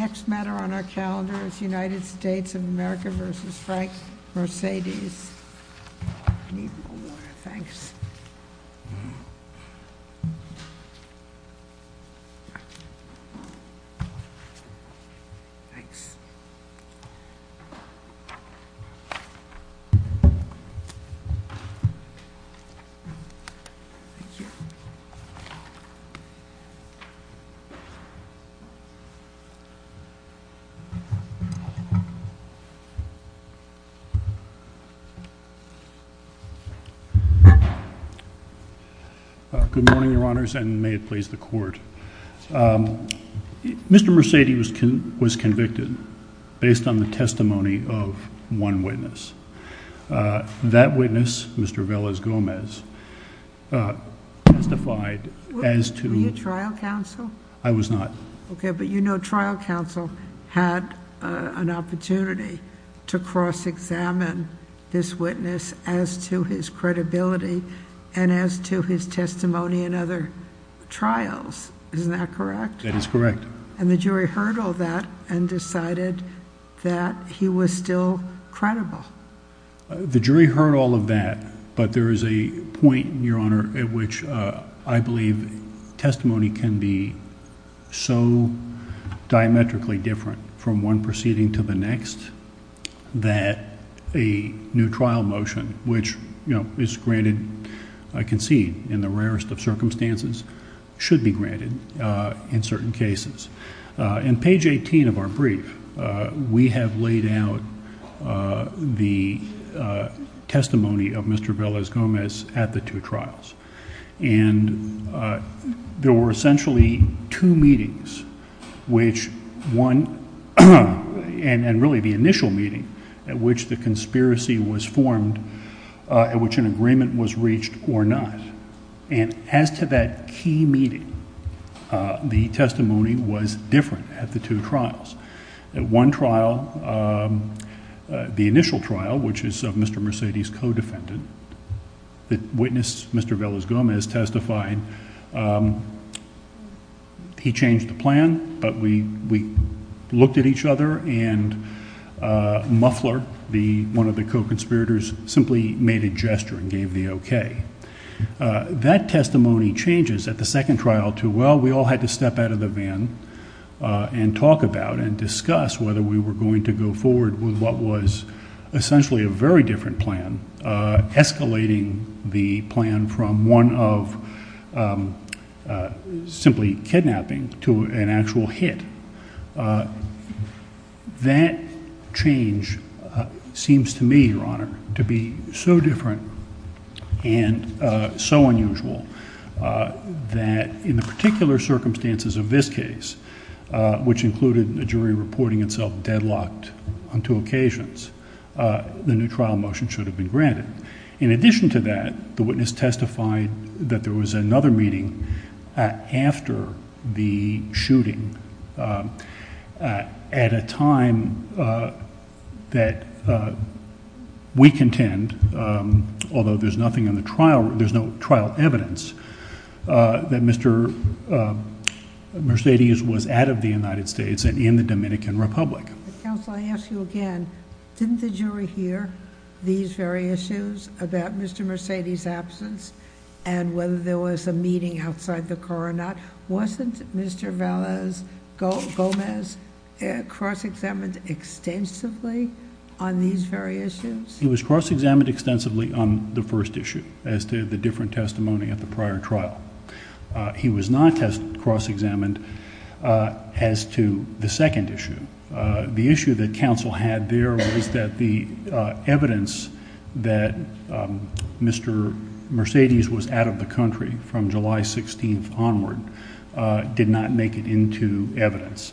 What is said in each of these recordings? The next matter on our calendar is United States of America v. Frank Mercedes. I need a little more, thanks. Thanks. Thank you. Good morning, your honors, and may it please the court. Mr. Mercedes was convicted based on the testimony of one witness. That witness, Mr. Velas Gomez, testified as to... Were you trial counsel? I was not. Okay, but you know trial counsel had an opportunity to cross-examine this witness as to his credibility and as to his testimony in other trials, isn't that correct? That is correct. And the jury heard all that and decided that he was still credible? The jury heard all of that, but there is a point, your honor, at which I believe testimony can be so diametrically different from one proceeding to the next that a new trial motion, which is granted, I concede, in the rarest of circumstances, should be granted in certain cases. In page eighteen of our brief, we have laid out the testimony of Mr. Velas Gomez at the two trials, and there were essentially two meetings, which one... and really the initial meeting at which the conspiracy was formed, at which an agreement was reached or not. And as to that key meeting, the testimony was different at the two trials. At one trial, the initial trial, which is of Mr. Mercedes' co-defendant, the witness Mr. Velas Gomez testified, he changed the plan, but we looked at each other and Muffler, one of the co-conspirators, simply made a gesture and gave the okay. That testimony changes at the second trial to, well, we all had to step out of the van and talk about and discuss whether we were going to go forward with what was essentially a very different plan, escalating the plan from one of simply kidnapping to an actual hit. That change seems to me, Your Honor, to be so different and so unusual that in the particular circumstances of this case, which included a jury reporting itself deadlocked on two occasions, the new trial motion should have been granted. In addition to that, the witness testified that there was another meeting after the shooting at a time that we contend, although there's nothing in the trial... there's no trial evidence that Mr. Mercedes was out of the United States and in the Dominican Republic. Counsel, I ask you again, didn't the jury hear these very issues about Mr. Mercedes' absence and whether there was a meeting outside the car or not? Wasn't Mr. Velas Gomez cross-examined extensively on these very issues? He was cross-examined extensively on the first issue as to the different testimony at the prior trial. He was not cross-examined as to the second issue. The issue that counsel had there was that the evidence that Mr. Mercedes was out of the country from July 16th onward did not make it into evidence.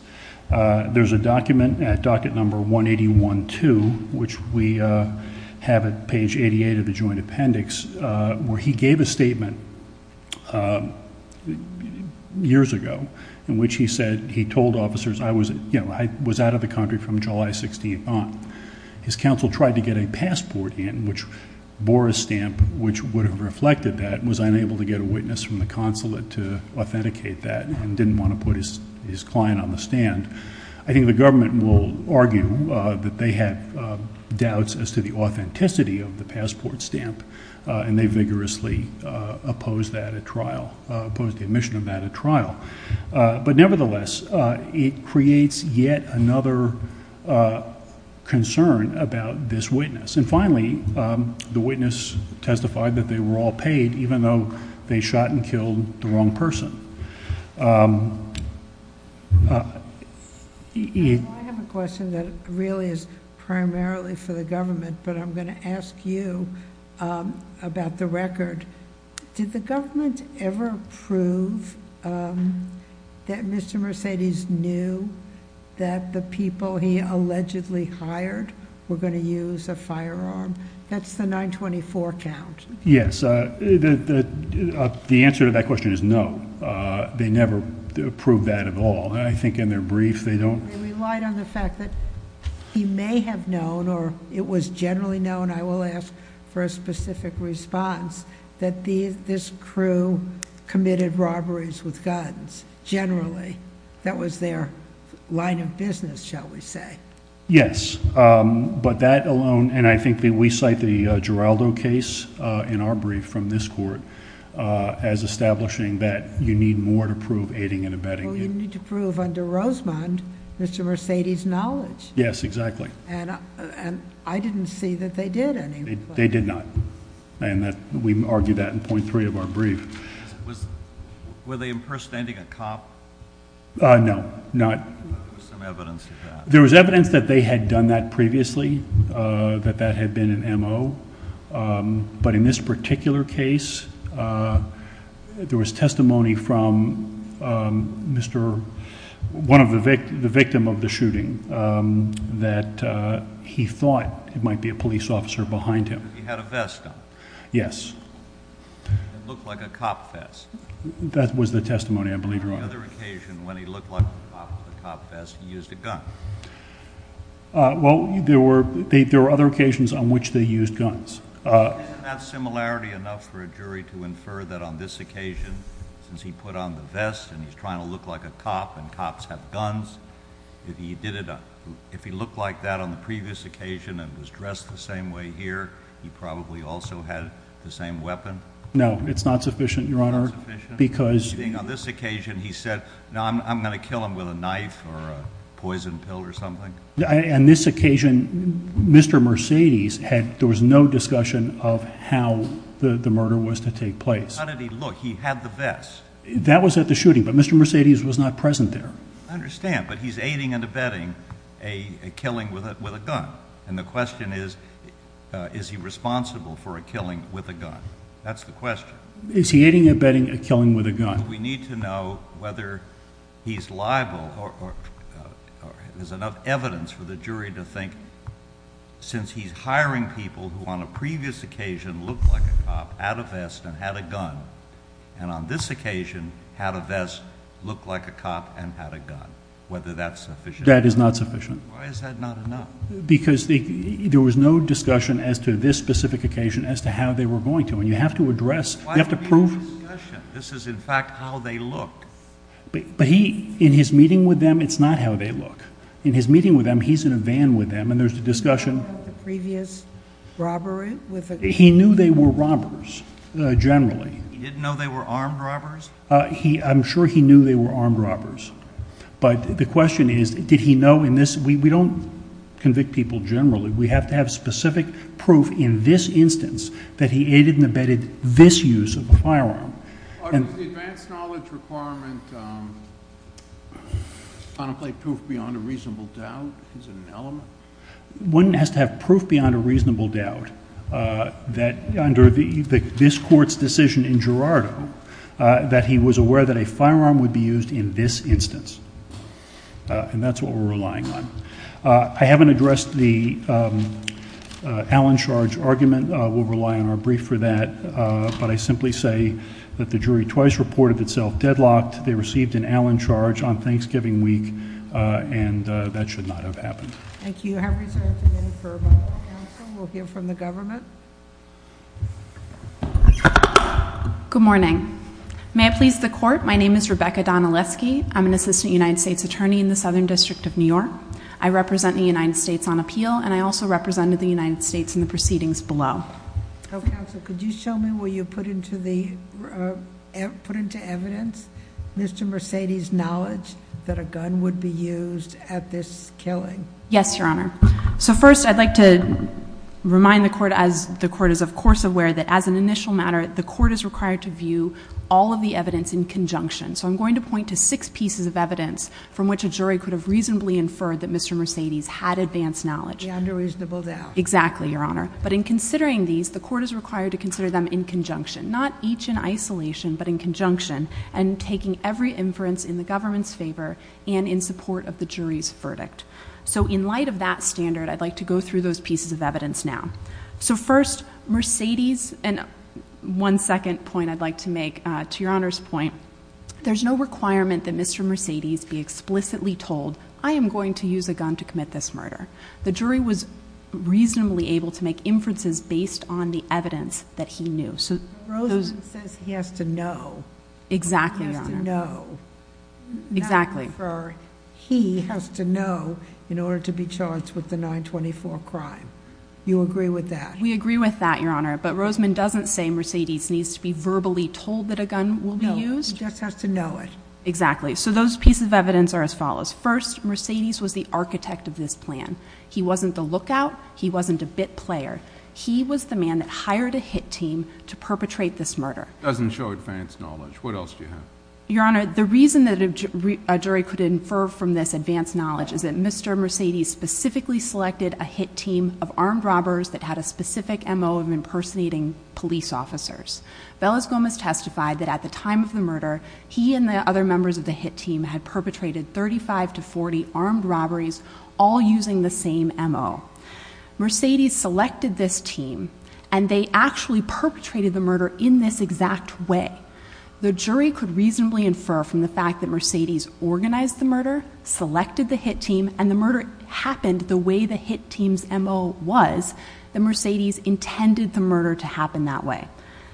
There's a document at docket number 181-2, which we have at page 88 of the joint appendix, where he gave a statement years ago in which he said he told officers I was out of the country from July 16th on. His counsel tried to get a passport in, which bore a stamp which would have reflected that and was unable to get a witness from the consulate to authenticate that and didn't want to put his client on the stand. I think the government will argue that they have doubts as to the authenticity of the passport stamp and they vigorously opposed that at trial, opposed the admission of that at trial. But nevertheless, it creates yet another concern about this witness. And finally, the witness testified that they were all paid even though they shot and killed the wrong person. I have a question that really is primarily for the government, but I'm going to ask you about the record. Did the government ever prove that Mr. Mercedes knew that the people he allegedly hired were going to use a firearm? That's the 924 count. Yes. The answer to that question is no. They never proved that at all. I think in their brief they don't. They relied on the fact that he may have known or it was generally known, I will ask for a specific response, that this crew committed robberies with guns, generally. That was their line of business, shall we say. Yes. But that alone, and I think we cite the Giraldo case in our brief from this court as establishing that you need more to prove aiding and abetting. Well, you need to prove under Rosemond Mr. Mercedes' knowledge. Yes, exactly. And I didn't see that they did anyway. They did not. And we argued that in point three of our brief. Were they impersonating a cop? No, not. There was some evidence of that. There was evidence that they had done that previously, that that had been an M.O. But in this particular case, there was testimony from the victim of the shooting that he thought it might be a police officer behind him. He had a vest on. Yes. It looked like a cop vest. That was the testimony, I believe, Your Honor. On the other occasion, when he looked like a cop with a cop vest, he used a gun. Well, there were other occasions on which they used guns. Isn't that similarity enough for a jury to infer that on this occasion, since he put on the vest and he's trying to look like a cop and cops have guns, if he looked like that on the previous occasion and was dressed the same way here, he probably also had the same weapon? No, it's not sufficient, Your Honor, because On this occasion, he said, I'm going to kill him with a knife or a poison pill or something? On this occasion, Mr. Mercedes, there was no discussion of how the murder was to take place. How did he look? He had the vest. That was at the shooting, but Mr. Mercedes was not present there. I understand, but he's aiding and abetting a killing with a gun. And the question is, is he responsible for a killing with a gun? That's the question. Is he aiding and abetting a killing with a gun? We need to know whether he's liable. There's enough evidence for the jury to think, since he's hiring people who on a previous occasion looked like a cop, had a vest, and had a gun, and on this occasion had a vest, looked like a cop, and had a gun, whether that's sufficient. That is not sufficient. Why is that not enough? Because there was no discussion as to this specific occasion as to how they were going to. You have to address, you have to prove. This is in fact how they looked. But he, in his meeting with them, it's not how they look. In his meeting with them, he's in a van with them, and there's a discussion. Previous robbery? He knew they were robbers, generally. He didn't know they were armed robbers? I'm sure he knew they were armed robbers. But the question is, did he know in this, we don't convict people generally. We have to have specific proof in this instance that he aided and abetted this use of a firearm. Was the advanced knowledge requirement contemplate proof beyond a reasonable doubt? Is it an element? One has to have proof beyond a reasonable doubt that under this Court's decision in Gerardo that he was aware that a firearm would be used in this instance. And that's what we're relying on. I haven't addressed the Allen charge argument. We'll rely on our brief for that. But I simply say that the jury twice reported itself deadlocked. They received an Allen charge on Thanksgiving week. And that should not have happened. Thank you. I have reserved a minute for a moment of counsel. We'll hear from the government. Good morning. May I please the Court? My name is Rebecca Donaleski. I'm an Assistant United States Attorney in the Southern District of New York. I represent the United States on appeal. And I also represented the United States in the proceedings below. Counsel, could you show me where you put into evidence Mr. Mercedes' knowledge that a gun would be used at this killing? Yes, Your Honor. So first I'd like to remind the Court as the Court is of course aware that as an initial matter the Court is required to view all of the evidence in conjunction. So I'm going to point to six pieces of evidence from which a jury could have reasonably inferred that Mr. Mercedes had advanced knowledge. Beyond a reasonable doubt. Exactly, Your Honor. But in considering these, the Court is required to consider them in conjunction. Not each in isolation, but in conjunction. And taking every inference in the government's favor and in support of the jury's verdict. So in light of that standard, I'd like to go through those pieces of evidence now. So first, Mercedes, and one second point I'd like to make to Your Honor's point. There's no requirement that Mr. Mercedes be explicitly told I am going to use a gun to commit this murder. The jury was reasonably able to make inferences based on the evidence that he knew. Rosman says he has to know. Exactly, Your Honor. He has to know. Exactly. Not infer. He has to know in order to be charged with the 924 crime. You agree with that? We agree with that, Your Honor. But Rosman doesn't say Mercedes needs to be verbally told that a gun will be used? He just has to know it. Exactly. So those pieces of evidence are as follows. First, Mercedes was the architect of this plan. He wasn't the lookout. He wasn't a bit player. He was the man that hired a hit team to perpetrate this murder. Doesn't show advanced knowledge. What else do you have? Your Honor, the reason that a jury could infer from this advanced knowledge is that Mr. Mercedes specifically selected a hit team of armed robbers that had a specific MO of impersonating police officers. Velas Gomez testified that at the time of the murder, he and the other members of the hit team had perpetrated 35 to 40 armed robberies all using the same MO. Mercedes selected this team and they actually perpetrated the murder in this exact way. The jury could reasonably infer from the fact that Mercedes organized the murder, selected the hit team, and the murder happened the way the hit team's MO was that Mercedes intended the murder to happen that way.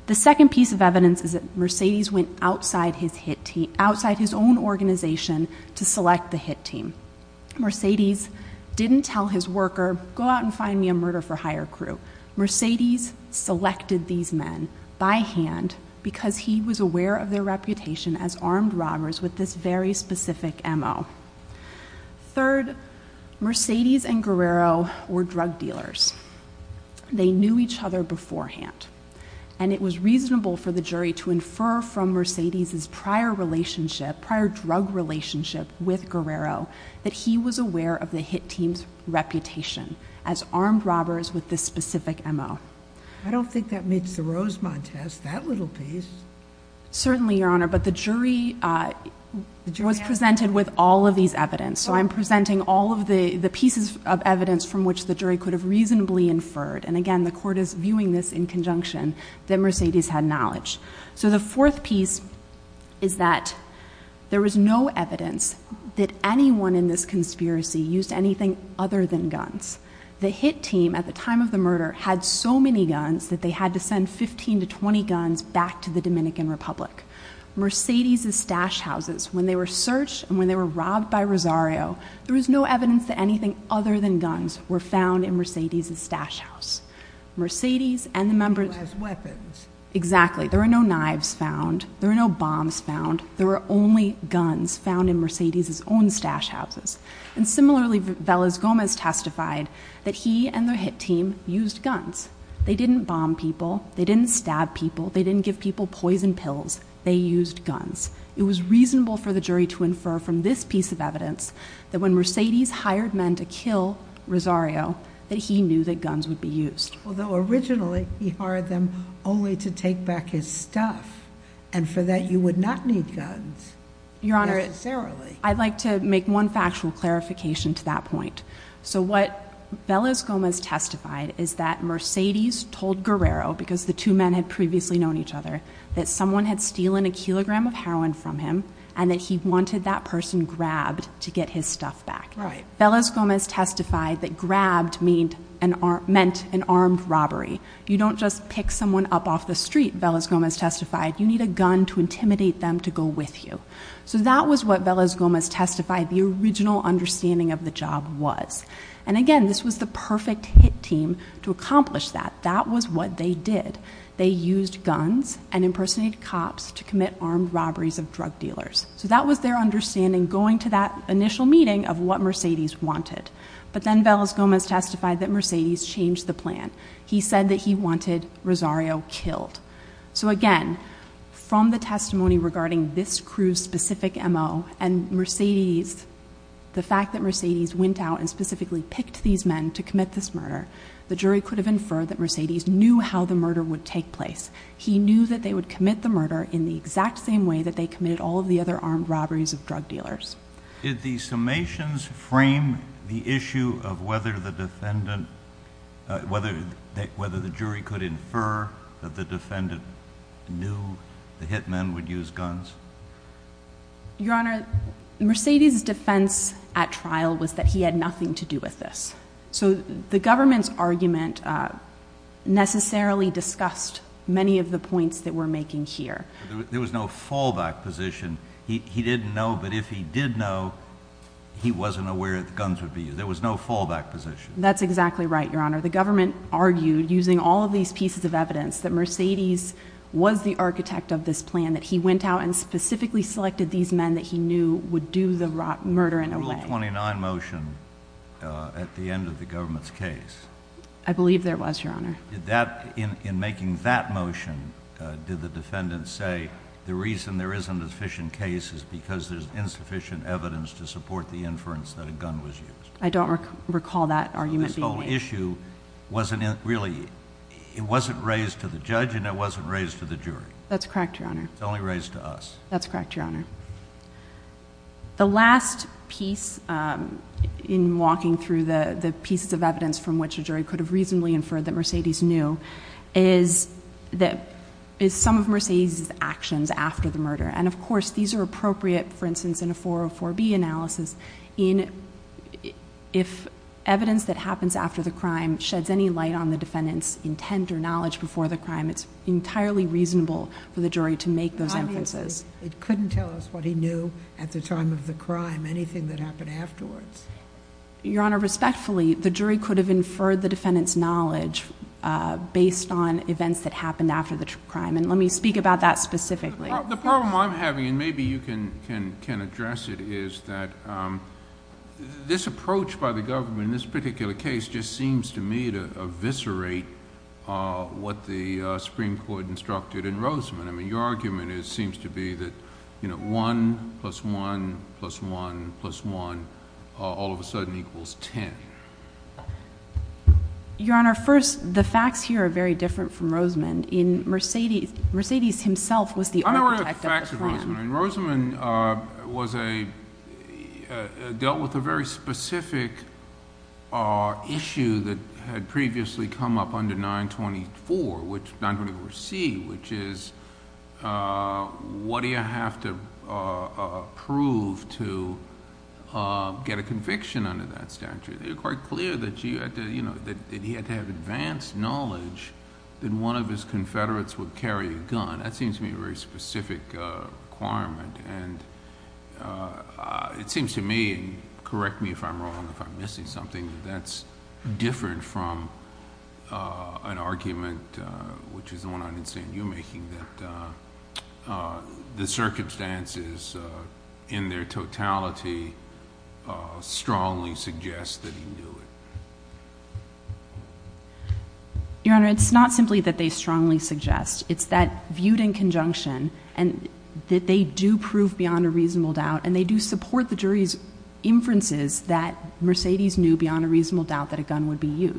The second piece of evidence is that Mercedes went outside his own organization to select the hit team. Mercedes didn't tell his worker, go out and find me a murder for hire crew. Mercedes selected these men by hand because he was aware of their reputation as armed robbers with this very specific MO. Third, Mercedes and Guerrero were drug dealers. They knew each other beforehand. It was reasonable for the jury to infer from Mercedes' prior relationship, prior drug relationship with Guerrero, that he was aware of the hit team's reputation as armed robbers with this specific MO. I don't think that meets the Rosemont test, that little piece. Certainly, Your Honor, but the jury was presented with all of these evidence. I'm presenting all of the pieces of evidence from which the jury could have reasonably inferred. Again, the court is viewing this in conjunction that Mercedes had knowledge. The fourth piece is that there was no evidence that anyone in this conspiracy used anything other than guns. The hit team, at the time of the murder, had so many guns that they had to send 15 to 20 guns back to the Dominican Republic. Mercedes' stash houses, when they were searched and when they were robbed by Rosario, there was no evidence that anything other than guns were found in Mercedes' stash house. Mercedes and the members... Who has weapons. Exactly. There were no knives found. There were no bombs found. There were only guns found in Mercedes' own stash houses. And similarly, Vélez-Gómez testified that he and the hit team used guns. They didn't bomb people. They didn't stab people. They didn't give people poison pills. They used guns. It was reasonable for the jury to infer from this piece of evidence that when Mercedes hired men to kill Rosario that he knew that guns would be used. Although, originally, he hired them only to take back his stuff. And for that, you would not need guns. Your Honor, I'd like to make one factual clarification to that point. So what Vélez-Gómez testified is that Mercedes told Guerrero, because the two men had previously known each other, that someone had stolen a kilogram of heroin from him and that he wanted that person grabbed to get his stuff back. Vélez-Gómez testified that grabbed meant an armed robbery. You don't just pick someone up off the street, Vélez-Gómez testified. You need a gun to intimidate them to go with you. So that was what Vélez-Gómez testified the original understanding of the job was. And again, this was the perfect hit team to accomplish that. That was what they did. They used guns and impersonated cops to commit armed robberies of drug dealers. So that was their understanding going to that initial meeting of what Mercedes wanted. But then Vélez-Gómez testified that Mercedes changed the plan. He said that he wanted Rosario killed. So again, from the testimony regarding this crew's specific MO and the fact that Mercedes went out and specifically picked these men to commit this murder, the jury could have inferred that Mercedes knew how the murder would take place. He knew that they would commit the murder in the exact same way that they committed all of the other armed robberies of drug dealers. Did the summations frame the issue of whether the defendant whether the jury could infer that the defendant knew the hit men would use guns? Your Honor, Mercedes' defense at trial was that he had nothing to do with this. So the government's argument necessarily discussed many of the points that we're making here. There was no fallback position. He didn't know, but if he did know, he wasn't aware that guns would be used. There was no fallback position. That's exactly right, Your Honor. The government argued using all of these pieces of evidence that Mercedes was the architect of this plan that he went out and specifically selected these men that he knew would do the murder in a way. Rule 29 motion at the end of the government's case. I believe there was, Your Honor. In making that motion, did the defendant say the reason there isn't a sufficient case is because there's insufficient evidence to support the inference that a gun was used? I don't recall that argument being made. So this whole issue wasn't really it wasn't raised to the judge and it wasn't raised to the jury? That's correct, Your Honor. It's only raised to us. That's correct, Your Honor. The last piece in walking through the pieces of evidence from which a jury could have reasonably inferred that Mercedes knew is some of Mercedes' actions after the murder. And of course these are appropriate for instance in a 404B analysis if evidence that happens after the crime sheds any light on the defendant's intent or knowledge before the crime it's entirely reasonable for the jury to make those inferences. It couldn't tell us what he knew at the time of the crime anything that happened afterwards. Your Honor, respectfully the jury could have inferred the defendant's knowledge based on events that happened after the crime and let me speak about that specifically. The problem I'm having and maybe you can address it is that this approach by the government in this particular case just seems to me to eviscerate what the Supreme Court instructed in Roseman. I mean your argument seems to be that one plus one plus one plus one all of a sudden equals ten. Your Honor, first the facts here are very different from Roseman. Mercedes himself was the architect of the plan. I'm not worried about the facts of Roseman. In Roseman was a dealt with a very specific issue that had previously come up under 924 which 924C which is what do you have to prove to get a conviction under that statute. It's quite clear that he had to have advanced knowledge that one of his Confederates would carry a gun. That seems to me a very specific requirement and it seems to me and correct me if I'm wrong if I'm missing something that's different from an argument which is the one I understand you making that the circumstances in their totality strongly suggest that he knew it. Your Honor it's not simply that they strongly suggest it's that viewed in conjunction and that they do prove beyond a reasonable doubt and they do support the jury's inferences that Mercedes knew beyond a reasonable doubt that a gun would be a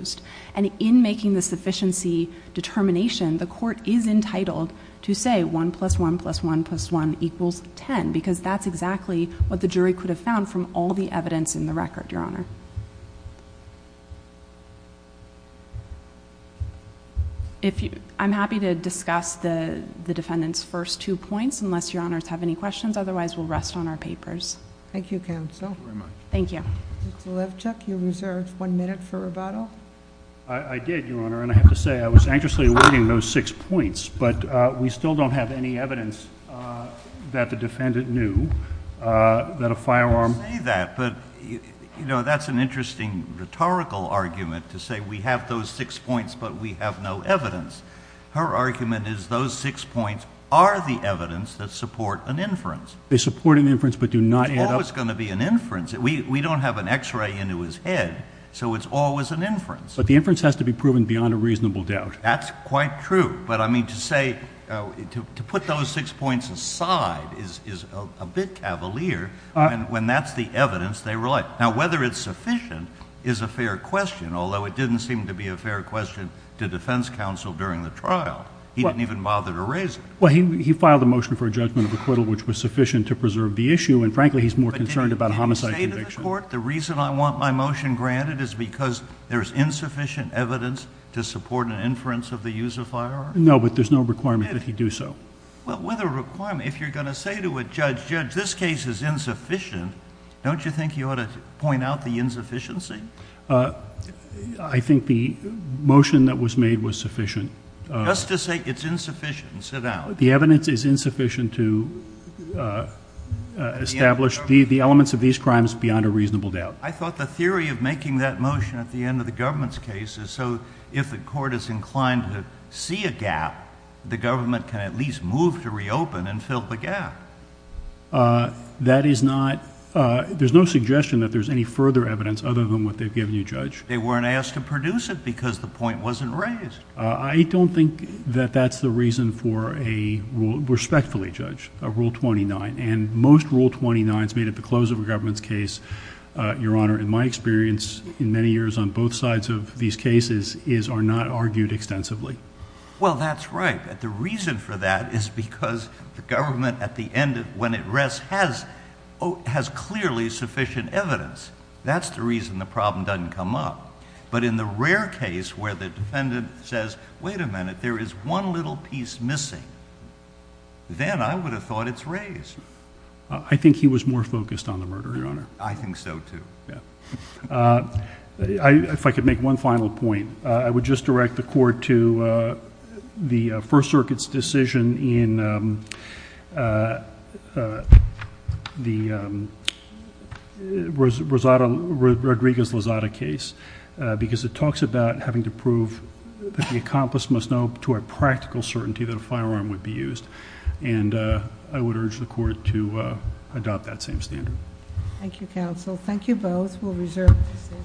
firearm. I'm happy to discuss the defendant's first two points unless your Honor has any questions otherwise we'll rest on our papers. Thank you counsel. Thank you. Mr. Levchuk you reserved one minute for rebuttal. I did Your Honor and I have to say I was anxiously waiting for those six points beyond a reasonable doubt. I have an interesting rhetorical argument to say we have those six points but we have no evidence. Her argument is those six points are the evidence that support an inference. They support an inference but do not add up. It's always going to be an inference. We don't have an x-ray into his head so it's always an inference. But the inference has to be proven beyond a reasonable doubt. That's quite true but to put those six points aside is a bit of an issue. The reason I want my motion granted is because there's insufficient evidence to support an inference. requirement if you're going to say to a judge this case is insufficient don't you think you ought to point out the insufficiency? I think the motion that was made was sufficient. Just to say it's insufficient so now the evidence is insufficient to establish the elements of these crimes beyond a reasonable doubt. I thought the theory of making that motion at the end of the case a reasonable doubt. I don't think that's the reason for a respectfully judge rule 29. Most rule 29s made at the close of a government case are not argued extensively. Well, that's right. The reason for that is because the government has clearly sufficient evidence. That's the reason the problem doesn't come up. But in the rare case where the defendant says wait a minute, there is one little piece missing, then I would have thought it's raised. I think he was more focused on the murder. I think so too. If I could make one final point, I would just direct the court to the same standard that the accomplice must know to a practical certainty that a firearm would be used. I would urge the court to adopt that same standard. Thank you, counsel. Thank you, both. Thank you.